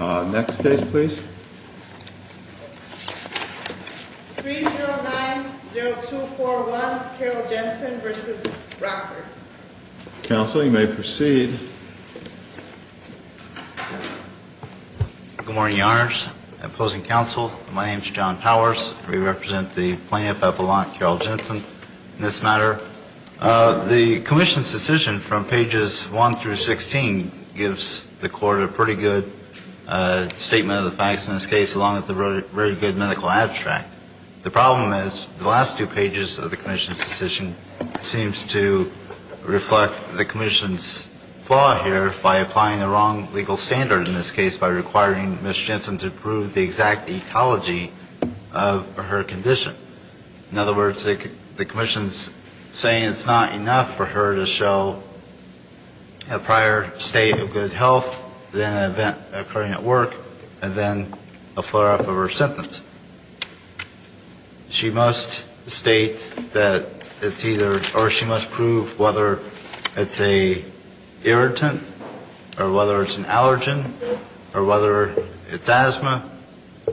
Next case please. 3090241 Carol Jensen v. Rockford Counsel, you may proceed. Good morning, Your Honors. Opposing Counsel, my name is John Powers. I represent the plaintiff at Volant, Carol Jensen, in this matter. The Commission's decision from pages 1 through 16 gives the Court a pretty good statement of the facts in this case, along with a very good medical abstract. The problem is the last two pages of the Commission's decision seems to reflect the Commission's flaw here by applying the wrong legal standard in this case by requiring Ms. Jensen to prove the exact ecology of her condition. In other words, the Commission's saying it's not enough for her to show a prior state of good health, then an event occurring at work, and then a flare-up of her symptoms. She must state that it's either, or she must prove whether it's an irritant, or whether it's an allergen, or whether it's asthma,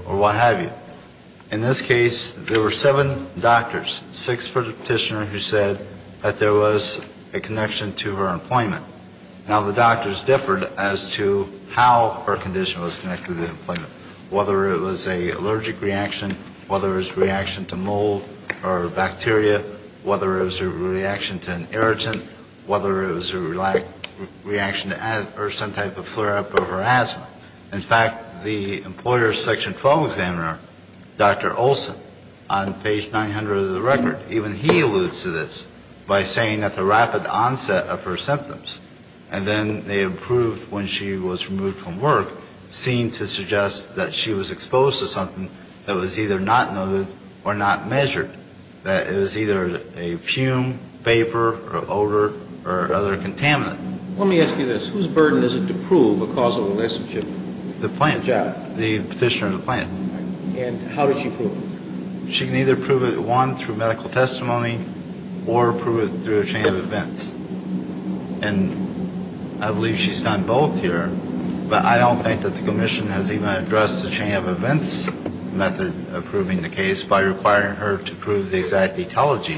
or what have you. In this case, there were seven doctors, six for the petitioner who said that there was a connection to her employment. Now, the doctors differed as to how her condition was connected to the employment, whether it was an allergic reaction, whether it was a reaction to mold or bacteria, whether it was a reaction to an irritant, whether it was a reaction to asthma or some type of flare-up of her asthma. In fact, the employer's section 12 examiner, Dr. Olson, on page 900 of the record, even he alludes to this by saying that the rapid onset of her symptoms, and then they improved when she was removed from work, seemed to suggest that she was exposed to something that was either not noted or not measured, that it was either a fume, vapor, or odor, or other contaminant. Let me ask you this. Whose burden is it to prove a causal relationship to the job? The petitioner at the plant. And how did she prove it? She can either prove it, one, through medical testimony, or prove it through a chain of events. And I believe she's done both here, but I don't think that the commission has even addressed the chain of events method of proving the case by requiring her to prove the exact etiology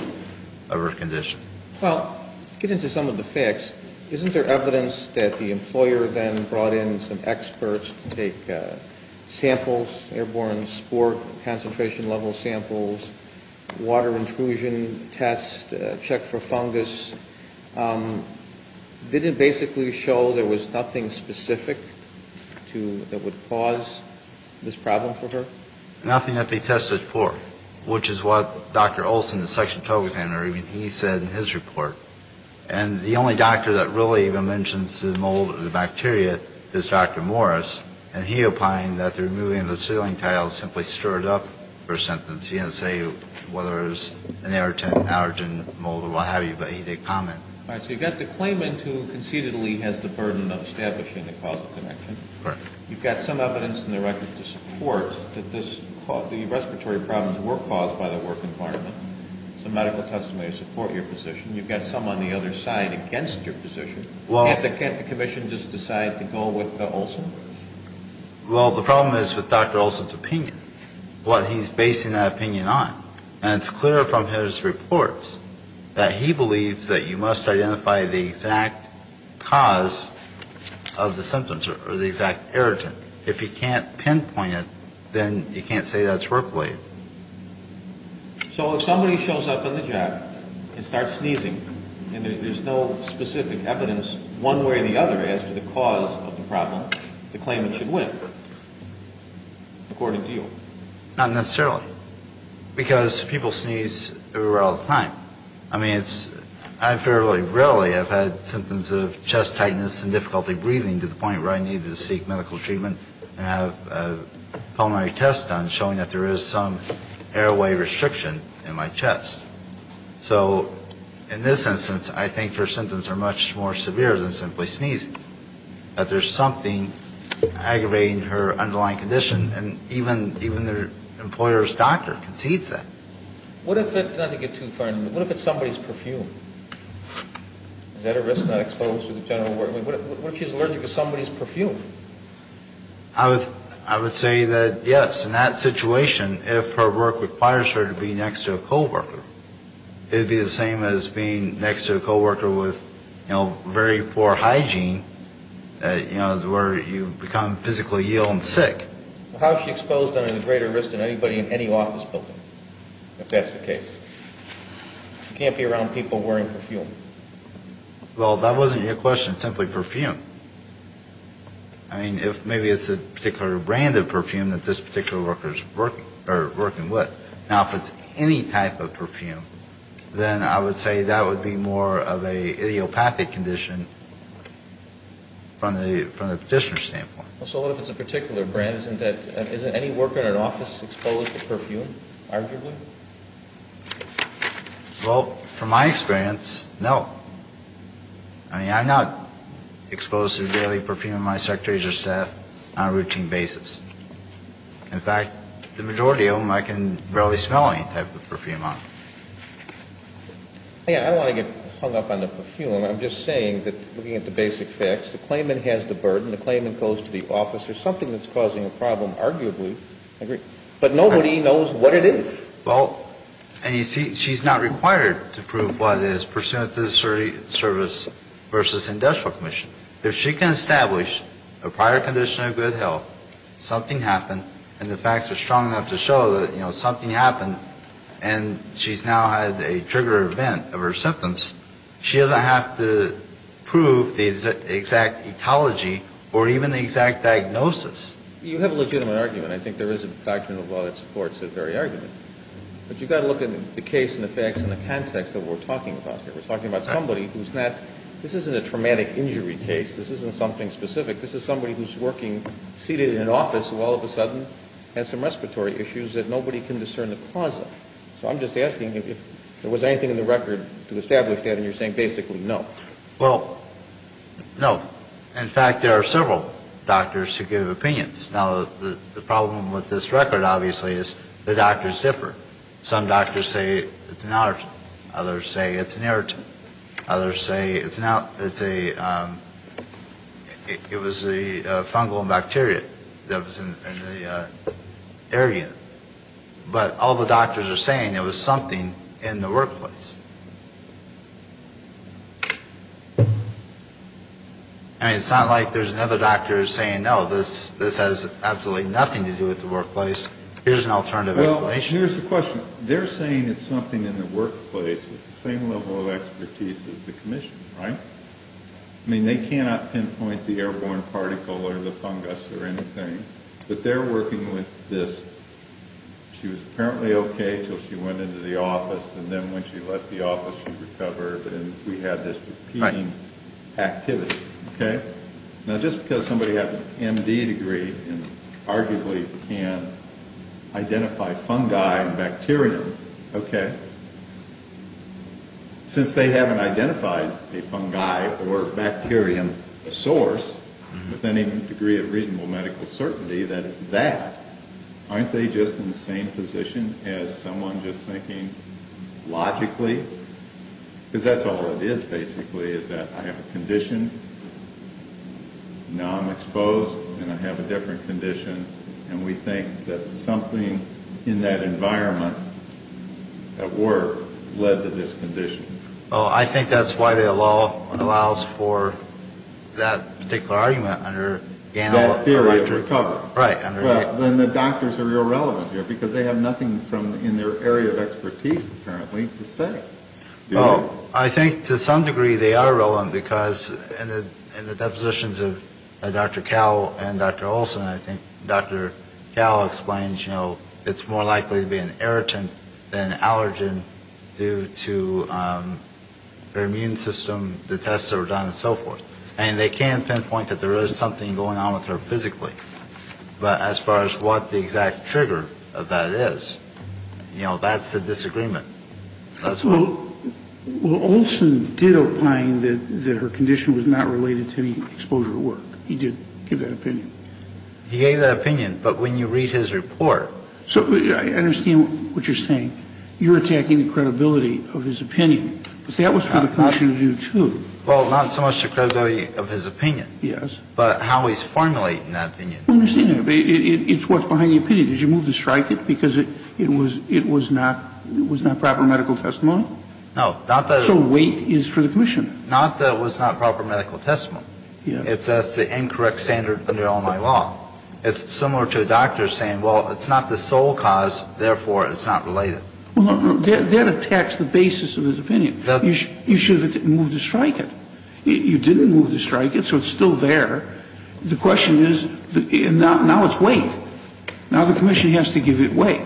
of her condition. Well, let's get into some of the facts. Isn't there evidence that the employer then brought in some experts to take samples, airborne sport concentration level samples, water intrusion tests, check for fungus? Did it basically show there was nothing specific that would cause this problem for her? Nothing that they tested for, which is what Dr. Olson, the section total examiner, he said in his report. And the only doctor that really even mentions the mold or the bacteria is Dr. Morris, and he opined that removing the sealing tile simply stirred up her symptoms. He didn't say whether it was an irritant, allergen, mold, or what have you, but he did comment. All right. So you've got the claimant who concededly has the burden of establishing the causal connection. Correct. You've got some evidence in the record to support that the respiratory problems were caused by the work environment. Some medical testimonies support your position. You've got some on the other side against your position. Can't the commission just decide to go with Olson? Well, the problem is with Dr. Olson's opinion, what he's basing that opinion on. And it's clear from his reports that he believes that you must identify the exact cause of the symptoms or the exact irritant. If you can't pinpoint it, then you can't say that it's work related. So if somebody shows up on the job and starts sneezing and there's no specific evidence one way or the other as to the cause of the problem, the claimant should win, according to you? Not necessarily. Because people sneeze everywhere all the time. I mean, I fairly rarely have had symptoms of chest tightness and difficulty breathing to the point where I needed to seek medical treatment and have a pulmonary test done showing that there is some airway restriction in my chest. So in this instance, I think her symptoms are much more severe than simply sneezing. But there's something aggravating her underlying condition, and even the employer's doctor concedes that. What if it's somebody's perfume? Is that a risk not exposed to the general public? What if she's allergic to somebody's perfume? I would say that, yes, in that situation, if her work requires her to be next to a coworker, it would be the same as being next to a coworker with, you know, very poor hygiene, you know, where you become physically ill and sick. How is she exposed under greater risk than anybody in any office building, if that's the case? You can't be around people wearing perfume. Well, that wasn't your question. Simply perfume. I mean, if maybe it's a particular brand of perfume that this particular worker is working with. Now, if it's any type of perfume, then I would say that would be more of an idiopathic condition from the petitioner's standpoint. So what if it's a particular brand? Isn't any worker in an office exposed to perfume, arguably? Well, from my experience, no. I mean, I'm not exposed to the daily perfume of my secretaries or staff on a routine basis. In fact, the majority of them I can barely smell any type of perfume on. Yeah, I don't want to get hung up on the perfume. I'm just saying that looking at the basic facts, the claimant has the burden. The claimant goes to the office. There's something that's causing a problem, arguably. But nobody knows what it is. Well, and you see, she's not required to prove what it is pursuant to the service versus industrial commission. If she can establish a prior condition of good health, something happened, and the facts are strong enough to show that, you know, something happened, and she's now had a trigger event of her symptoms, she doesn't have to prove the exact etiology or even the exact diagnosis. You have a legitimate argument. I think there is a doctrine of law that supports that very argument. But you've got to look at the case and the facts in the context that we're talking about here. We're talking about somebody who's not ñ this isn't a traumatic injury case. This isn't something specific. This is somebody who's working, seated in an office, who all of a sudden has some respiratory issues that nobody can discern the cause of. So I'm just asking if there was anything in the record to establish that, and you're saying basically no. Well, no. In fact, there are several doctors who give opinions. Now, the problem with this record, obviously, is the doctors differ. Some doctors say it's an allergen. Others say it's an irritant. Others say it's a ñ it was a fungal bacteria that was in the area. But all the doctors are saying it was something in the workplace. I mean, it's not like there's another doctor saying, no, this has absolutely nothing to do with the workplace. Here's an alternative explanation. Here's the question. They're saying it's something in the workplace with the same level of expertise as the commission, right? I mean, they cannot pinpoint the airborne particle or the fungus or anything, but they're working with this. She was apparently okay until she went into the office, and then when she left the office, she recovered, and we had this repeating activity. Okay? Now, just because somebody has an M.D. degree and arguably can identify fungi and bacterium, okay, since they haven't identified a fungi or bacterium source with any degree of reasonable medical certainty that it's that, aren't they just in the same position as someone just thinking logically? Because that's all it is, basically, is that I have a condition, now I'm exposed, and I have a different condition, and we think that something in that environment at work led to this condition. Well, I think that's why the law allows for that particular argument under Ganell and Rector. That theory of recovery. Right. Well, then the doctors are irrelevant here, because they have nothing in their area of expertise, apparently, to say. Well, I think to some degree they are relevant, because in the depositions of Dr. Cal and Dr. Olson, I think Dr. Cal explains, you know, it's more likely to be an irritant than an allergen due to her immune system, the tests that were done, and so forth. And they can pinpoint that there is something going on with her physically. But as far as what the exact trigger of that is, you know, that's a disagreement. Well, Olson did opine that her condition was not related to the exposure at work. He did give that opinion. He gave that opinion, but when you read his report. So I understand what you're saying. You're attacking the credibility of his opinion. But that was for the clinician to do, too. Well, not so much the credibility of his opinion. Yes. But how he's formulating that opinion. I understand that. It's what's behind the opinion. Did you move to strike it, because it was not proper medical testimony? No. So weight is for the clinician. Not that it was not proper medical testimony. It says the incorrect standard under all my law. It's similar to a doctor saying, well, it's not the sole cause, therefore it's not related. That attacks the basis of his opinion. You should have moved to strike it. You didn't move to strike it, so it's still there. The question is, now it's weight. Now the commission has to give it weight.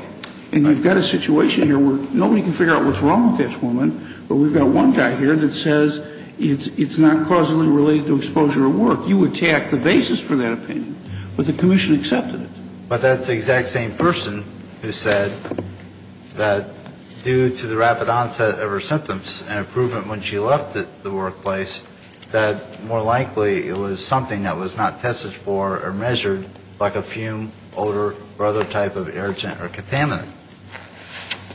And we've got a situation here where nobody can figure out what's wrong with this woman, but we've got one guy here that says it's not causally related to exposure at work. You attack the basis for that opinion. But the commission accepted it. But that's the exact same person who said that due to the rapid onset of her symptoms and improvement when she left the workplace, that more likely it was something that was not tested for or measured, like a fume, odor, or other type of irritant or contaminant.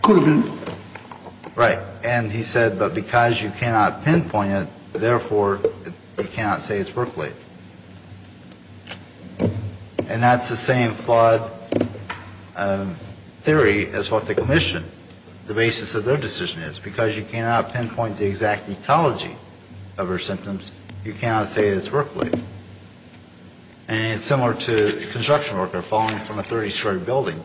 Could have been. Right. And he said, but because you cannot pinpoint it, therefore you cannot say it's work-related. And that's the same flawed theory as what the commission, the basis of their decision is. Because you cannot pinpoint the exact ecology of her symptoms, you cannot say it's work-related. And it's similar to a construction worker falling from a 30-story building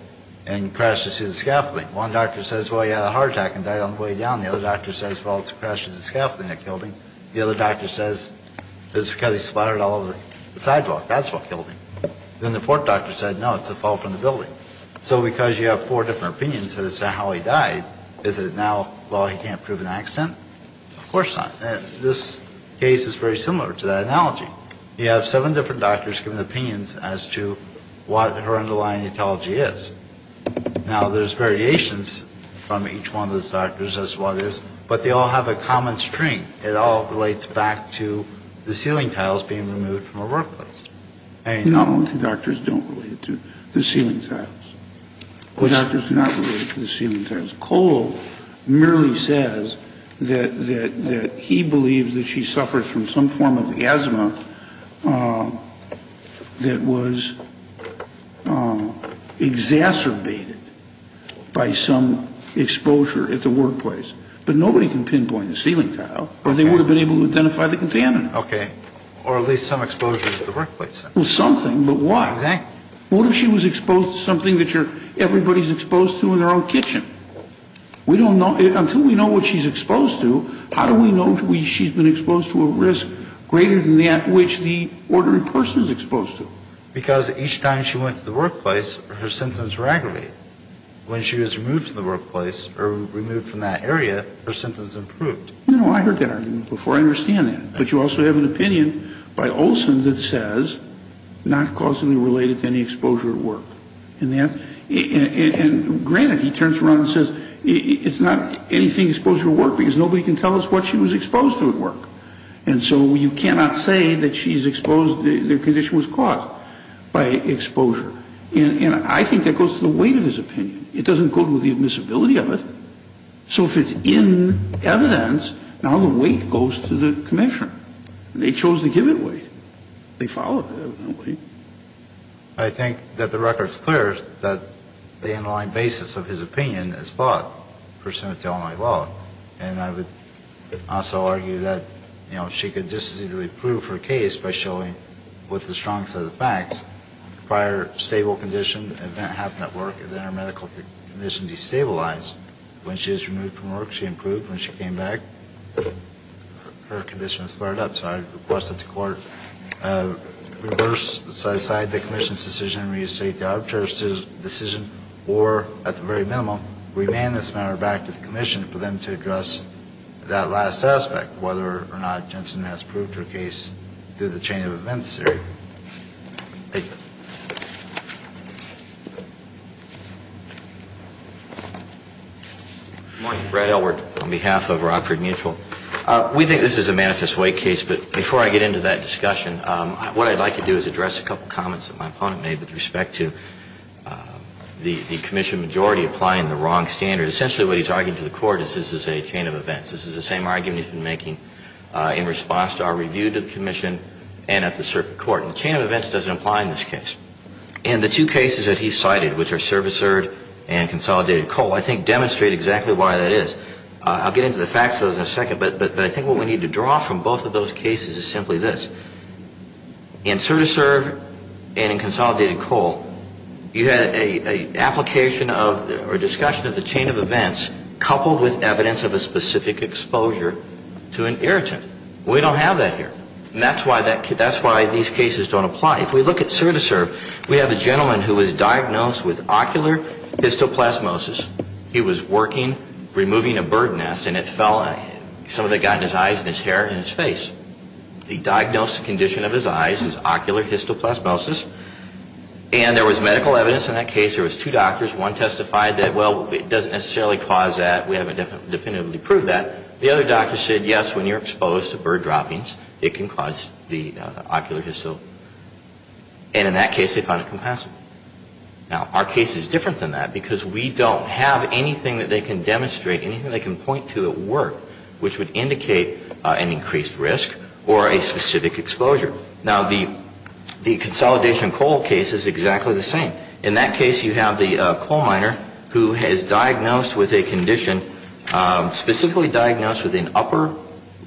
and crashes his scaffolding. One doctor says, well, he had a heart attack and died on the way down. The other doctor says, well, it's a crash of the scaffolding that killed him. The other doctor says, it's because he splattered all over the sidewalk. That's what killed him. Then the fourth doctor said, no, it's a fall from the building. So because you have four different opinions as to how he died, is it now, well, he can't prove an accident? Of course not. This case is very similar to that analogy. You have seven different doctors giving opinions as to what her underlying ecology is. Now, there's variations from each one of those doctors as to what it is. But they all have a common string. It all relates back to the ceiling tiles being removed from her workplace. Not only do doctors don't relate it to the ceiling tiles. But doctors do not relate it to the ceiling tiles. Cole merely says that he believes that she suffered from some form of asthma that was exacerbated by some exposure at the workplace. But nobody can pinpoint the ceiling tile. Or they would have been able to identify the contaminant. Okay. Or at least some exposure to the workplace. Well, something, but why? Exactly. What if she was exposed to something that everybody's exposed to in their own kitchen? We don't know. Until we know what she's exposed to, how do we know she's been exposed to a risk greater than that which the ordinary person is exposed to? Because each time she went to the workplace, her symptoms were aggravated. When she was removed from the workplace, or removed from that area, her symptoms improved. No, no, I heard that argument before. I understand that. But you also have an opinion by Olson that says, not causally related to any exposure at work. And granted, he turns around and says, it's not anything exposed to work, because nobody can tell us what she was exposed to at work. And so you cannot say that she's exposed, the condition was caused by exposure. And I think that goes to the weight of his opinion. It doesn't go to the admissibility of it. So if it's in evidence, now the weight goes to the commissioner. They chose to give it weight. They followed it, evidently. I think that the record's clear that the underlying basis of his opinion is flawed, pursuant to Illinois law. And I would also argue that, you know, she could just as easily prove her case by showing with the strong set of facts, prior stable condition, event happened at work, and then her medical condition destabilized. When she was removed from work, she improved. When she came back, her condition was fired up. So I request that the court reverse, set aside the commission's decision, reinstate the arbitrator's decision, or, at the very minimum, remand this matter back to the commission for them to address that last aspect, whether or not Jensen has proved her case through the chain of events theory. Thank you. Good morning. Brad Elward on behalf of Rockford Mutual. We think this is a manifest weight case, but before I get into that discussion, what I'd like to do is address a couple of comments that my opponent made with respect to the commission majority applying the wrong standard. Essentially, what he's arguing to the court is this is a chain of events. This is the same argument he's been making in response to our review to the commission and at the circuit court. And the chain of events doesn't apply in this case. And the two cases that he cited, which are servicerred and consolidated coal, I think demonstrate exactly why that is. I'll get into the facts of those in a second, but I think what we need to draw from both of those cases is simply this. In servicerred and in consolidated coal, you had an application of or discussion of the chain of events coupled with evidence of a specific exposure to an irritant. We don't have that here. And that's why these cases don't apply. If we look at servicerred, we have a gentleman who was diagnosed with ocular histoplasmosis. He was working, removing a bird nest, and it fell on him. Some of it got in his eyes and his hair and his face. He diagnosed the condition of his eyes as ocular histoplasmosis. And there was medical evidence in that case. There was two doctors. One testified that, well, it doesn't necessarily cause that. We haven't definitively proved that. The other doctor said, yes, when you're exposed to bird droppings, it can cause the ocular histo. And in that case, they found it compassionate. Now, our case is different than that because we don't have anything that they can demonstrate, anything they can point to at work, which would indicate an increased risk or a specific exposure. Now, the consolidation coal case is exactly the same. In that case, you have the coal miner who is diagnosed with a condition, specifically diagnosed with an upper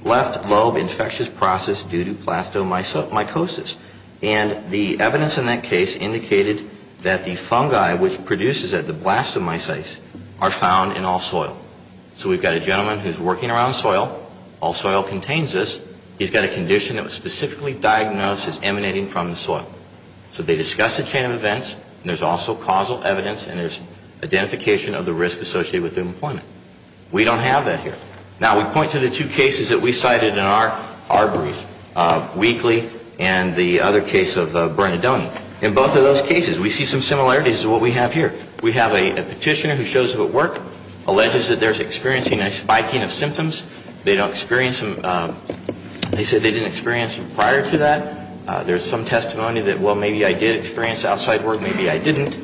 left lobe infectious process due to plastomycosis. And the evidence in that case indicated that the fungi which produces the blastomycetes are found in all soil. So we've got a gentleman who's working around soil. All soil contains this. He's got a condition that was specifically diagnosed as emanating from the soil. So they discuss a chain of events, and there's also causal evidence, and there's identification of the risk associated with the employment. We don't have that here. Now, we point to the two cases that we cited in our brief, Weakley and the other case of Bernadone. In both of those cases, we see some similarities to what we have here. We have a petitioner who shows up at work, alleges that they're experiencing a spiking of symptoms. They don't experience them. They said they didn't experience them prior to that. There's some testimony that, well, maybe I did experience outside work, maybe I didn't.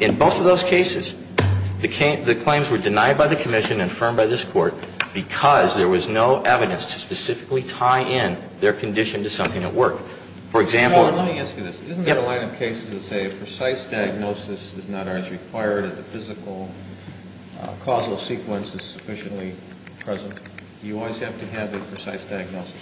In both of those cases, the claims were denied by the Commission and affirmed by this Court because there was no evidence to specifically tie in their condition to something at work. For example ---- Let me ask you this. Isn't there a line of cases that say a precise diagnosis is not as required if the physical causal sequence is sufficiently present? Do you always have to have a precise diagnosis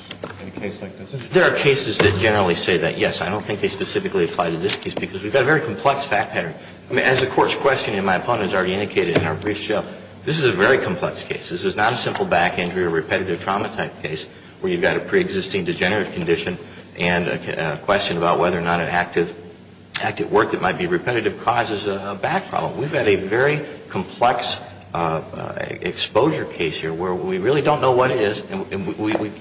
in a case like this? There are cases that generally say that, yes, I don't think they specifically apply to this case because we've got a very complex fact pattern. As the Court's question and my opponent has already indicated in our brief show, this is a very complex case. This is not a simple back injury or repetitive trauma type case where you've got a preexisting degenerative condition and a question about whether or not an active work that might be repetitive causes a back problem. We've got a very complex exposure case here where we really don't know what it is and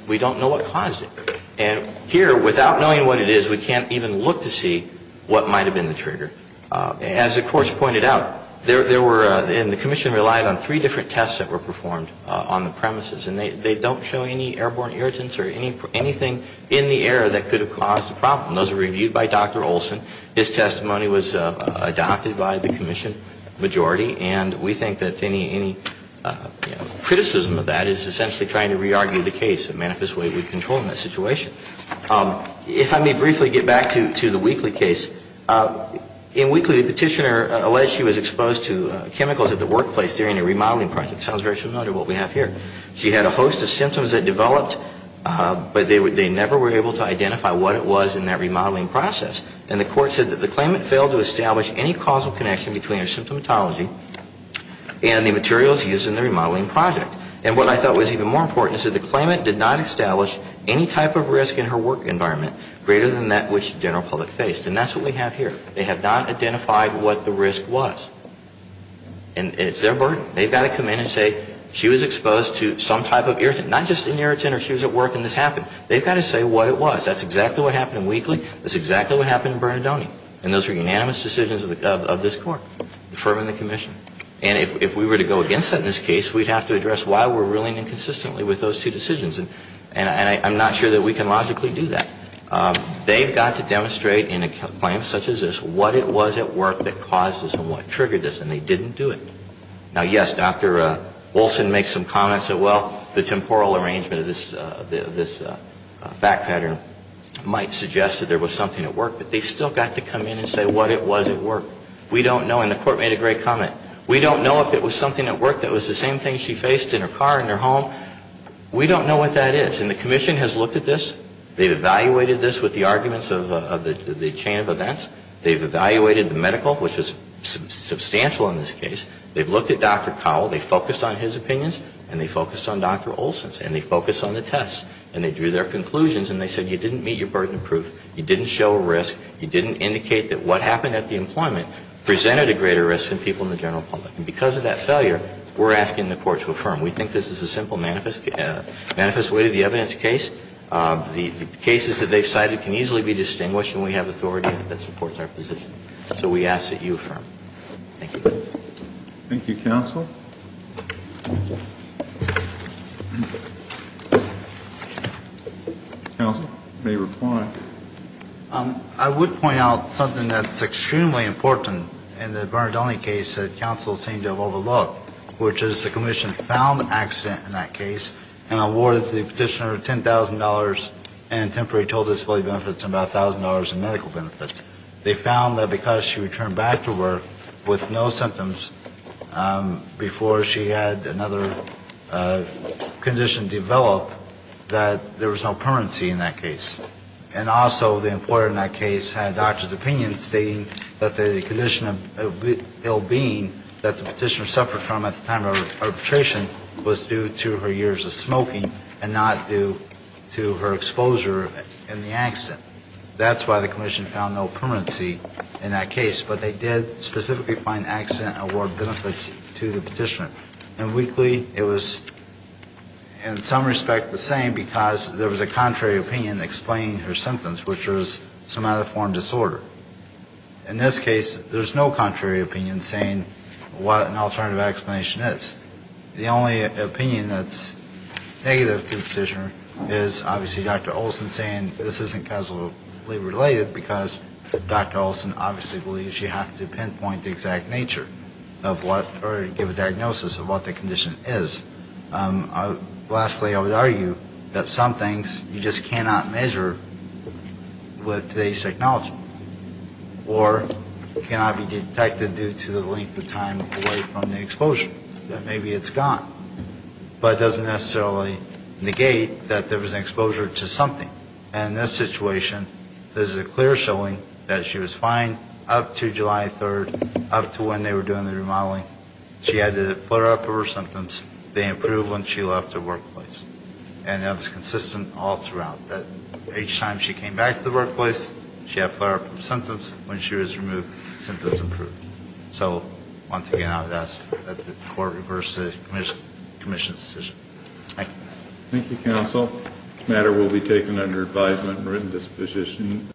we don't know what caused it. And here, without knowing what it is, we can't even look to see what might have been the trigger. As the Court's pointed out, there were ---- and the Commission relied on three different tests that were performed on the premises and they don't show any airborne irritants or anything in the air that could have caused a problem. Those were reviewed by Dr. Olson. His testimony was adopted by the Commission majority and we think that any criticism of that is essentially trying to re-argue the case. I think that there are a lot of things that manifest the way we control in that situation. If I may briefly get back to the Weakley case. In Weakley, the Petitioner alleged she was exposed to chemicals at the workplace during a remodeling project. It sounds very similar to what we have here. She had a host of symptoms that developed but they never were able to identify what it was in that remodeling process. And the Court said that the claimant failed to establish any causal connection between her symptomatology and the materials used in the remodeling project. And what I thought was even more important is that the claimant did not establish any type of risk in her work environment greater than that which the general public faced. And that's what we have here. They have not identified what the risk was. And it's their burden. They've got to come in and say she was exposed to some type of irritant. Not just an irritant or she was at work and this happened. They've got to say what it was. That's exactly what happened in Weakley. That's exactly what happened in Bernadone. And those are unanimous decisions of this Court, the firm and the commission. And if we were to go against that in this case, we'd have to address why we're ruling inconsistently with those two decisions. And I'm not sure that we can logically do that. They've got to demonstrate in a claim such as this what it was at work that caused this and what triggered this. And they didn't do it. Now, yes, Dr. Wilson makes some comments that, well, the temporal arrangement of this fact pattern might suggest that there was something at work. But they've still got to come in and say what it was at work. We don't know. And the Court made a great comment. We don't know if it was something at work that was the same thing she faced in her car, in her home. We don't know what that is. And the commission has looked at this. They've evaluated this with the arguments of the chain of events. They've evaluated the medical, which was substantial in this case. They've looked at Dr. Cowell. They focused on his opinions. And they focused on Dr. Olson's. And they focused on the tests. And they drew their conclusions. And they said you didn't meet your burden of proof. You didn't show a risk. You didn't indicate that what happened at the employment presented a greater risk than people in the general public. And because of that failure, we're asking the Court to affirm. We think this is a simple manifest way to the evidence case. The cases that they've cited can easily be distinguished. And we have authority that supports our position. So we ask that you affirm. Thank you. Thank you, Counsel. Counsel, you may reply. I would point out something that's extremely important in the Bernard Dawley case that Counsel seemed to have overlooked, which is the commission found an accident in that case and awarded the petitioner $10,000 and temporary total disability benefits of about $1,000 in medical benefits. They found that because she returned back to work with no symptoms before she had another condition develop, that there was no permanency in that case. And also the employer in that case had doctor's opinion stating that the condition of ill-being that the petitioner suffered from at the time of her arbitration was due to her years of smoking and not due to her exposure in the accident. That's why the commission found no permanency in that case. But they did specifically find accident award benefits to the petitioner. And weakly it was in some respect the same because there was a contrary opinion explaining her symptoms, which was somatiform disorder. In this case, there's no contrary opinion saying what an alternative explanation is. The only opinion that's negative to the petitioner is obviously Dr. Olson saying this isn't causally related because Dr. Olson obviously believes you have to pinpoint the exact nature of what or give a diagnosis of what the condition is. Lastly, I would argue that some things you just cannot measure with today's technology or cannot be detected due to the length of time away from the exposure. Maybe it's gone. But it doesn't necessarily negate that there was an exposure to something. And in this situation, this is a clear showing that she was fine up to July 3rd, up to when they were doing the remodeling. She had the flare-up of her symptoms. They improved when she left the workplace. And that was consistent all throughout. Each time she came back to the workplace, she had flare-up of symptoms. When she was removed, symptoms improved. So once again, I would ask that the court reverse the commission's decision. Thank you. Thank you, counsel. This matter will be taken under advisement and written disposition.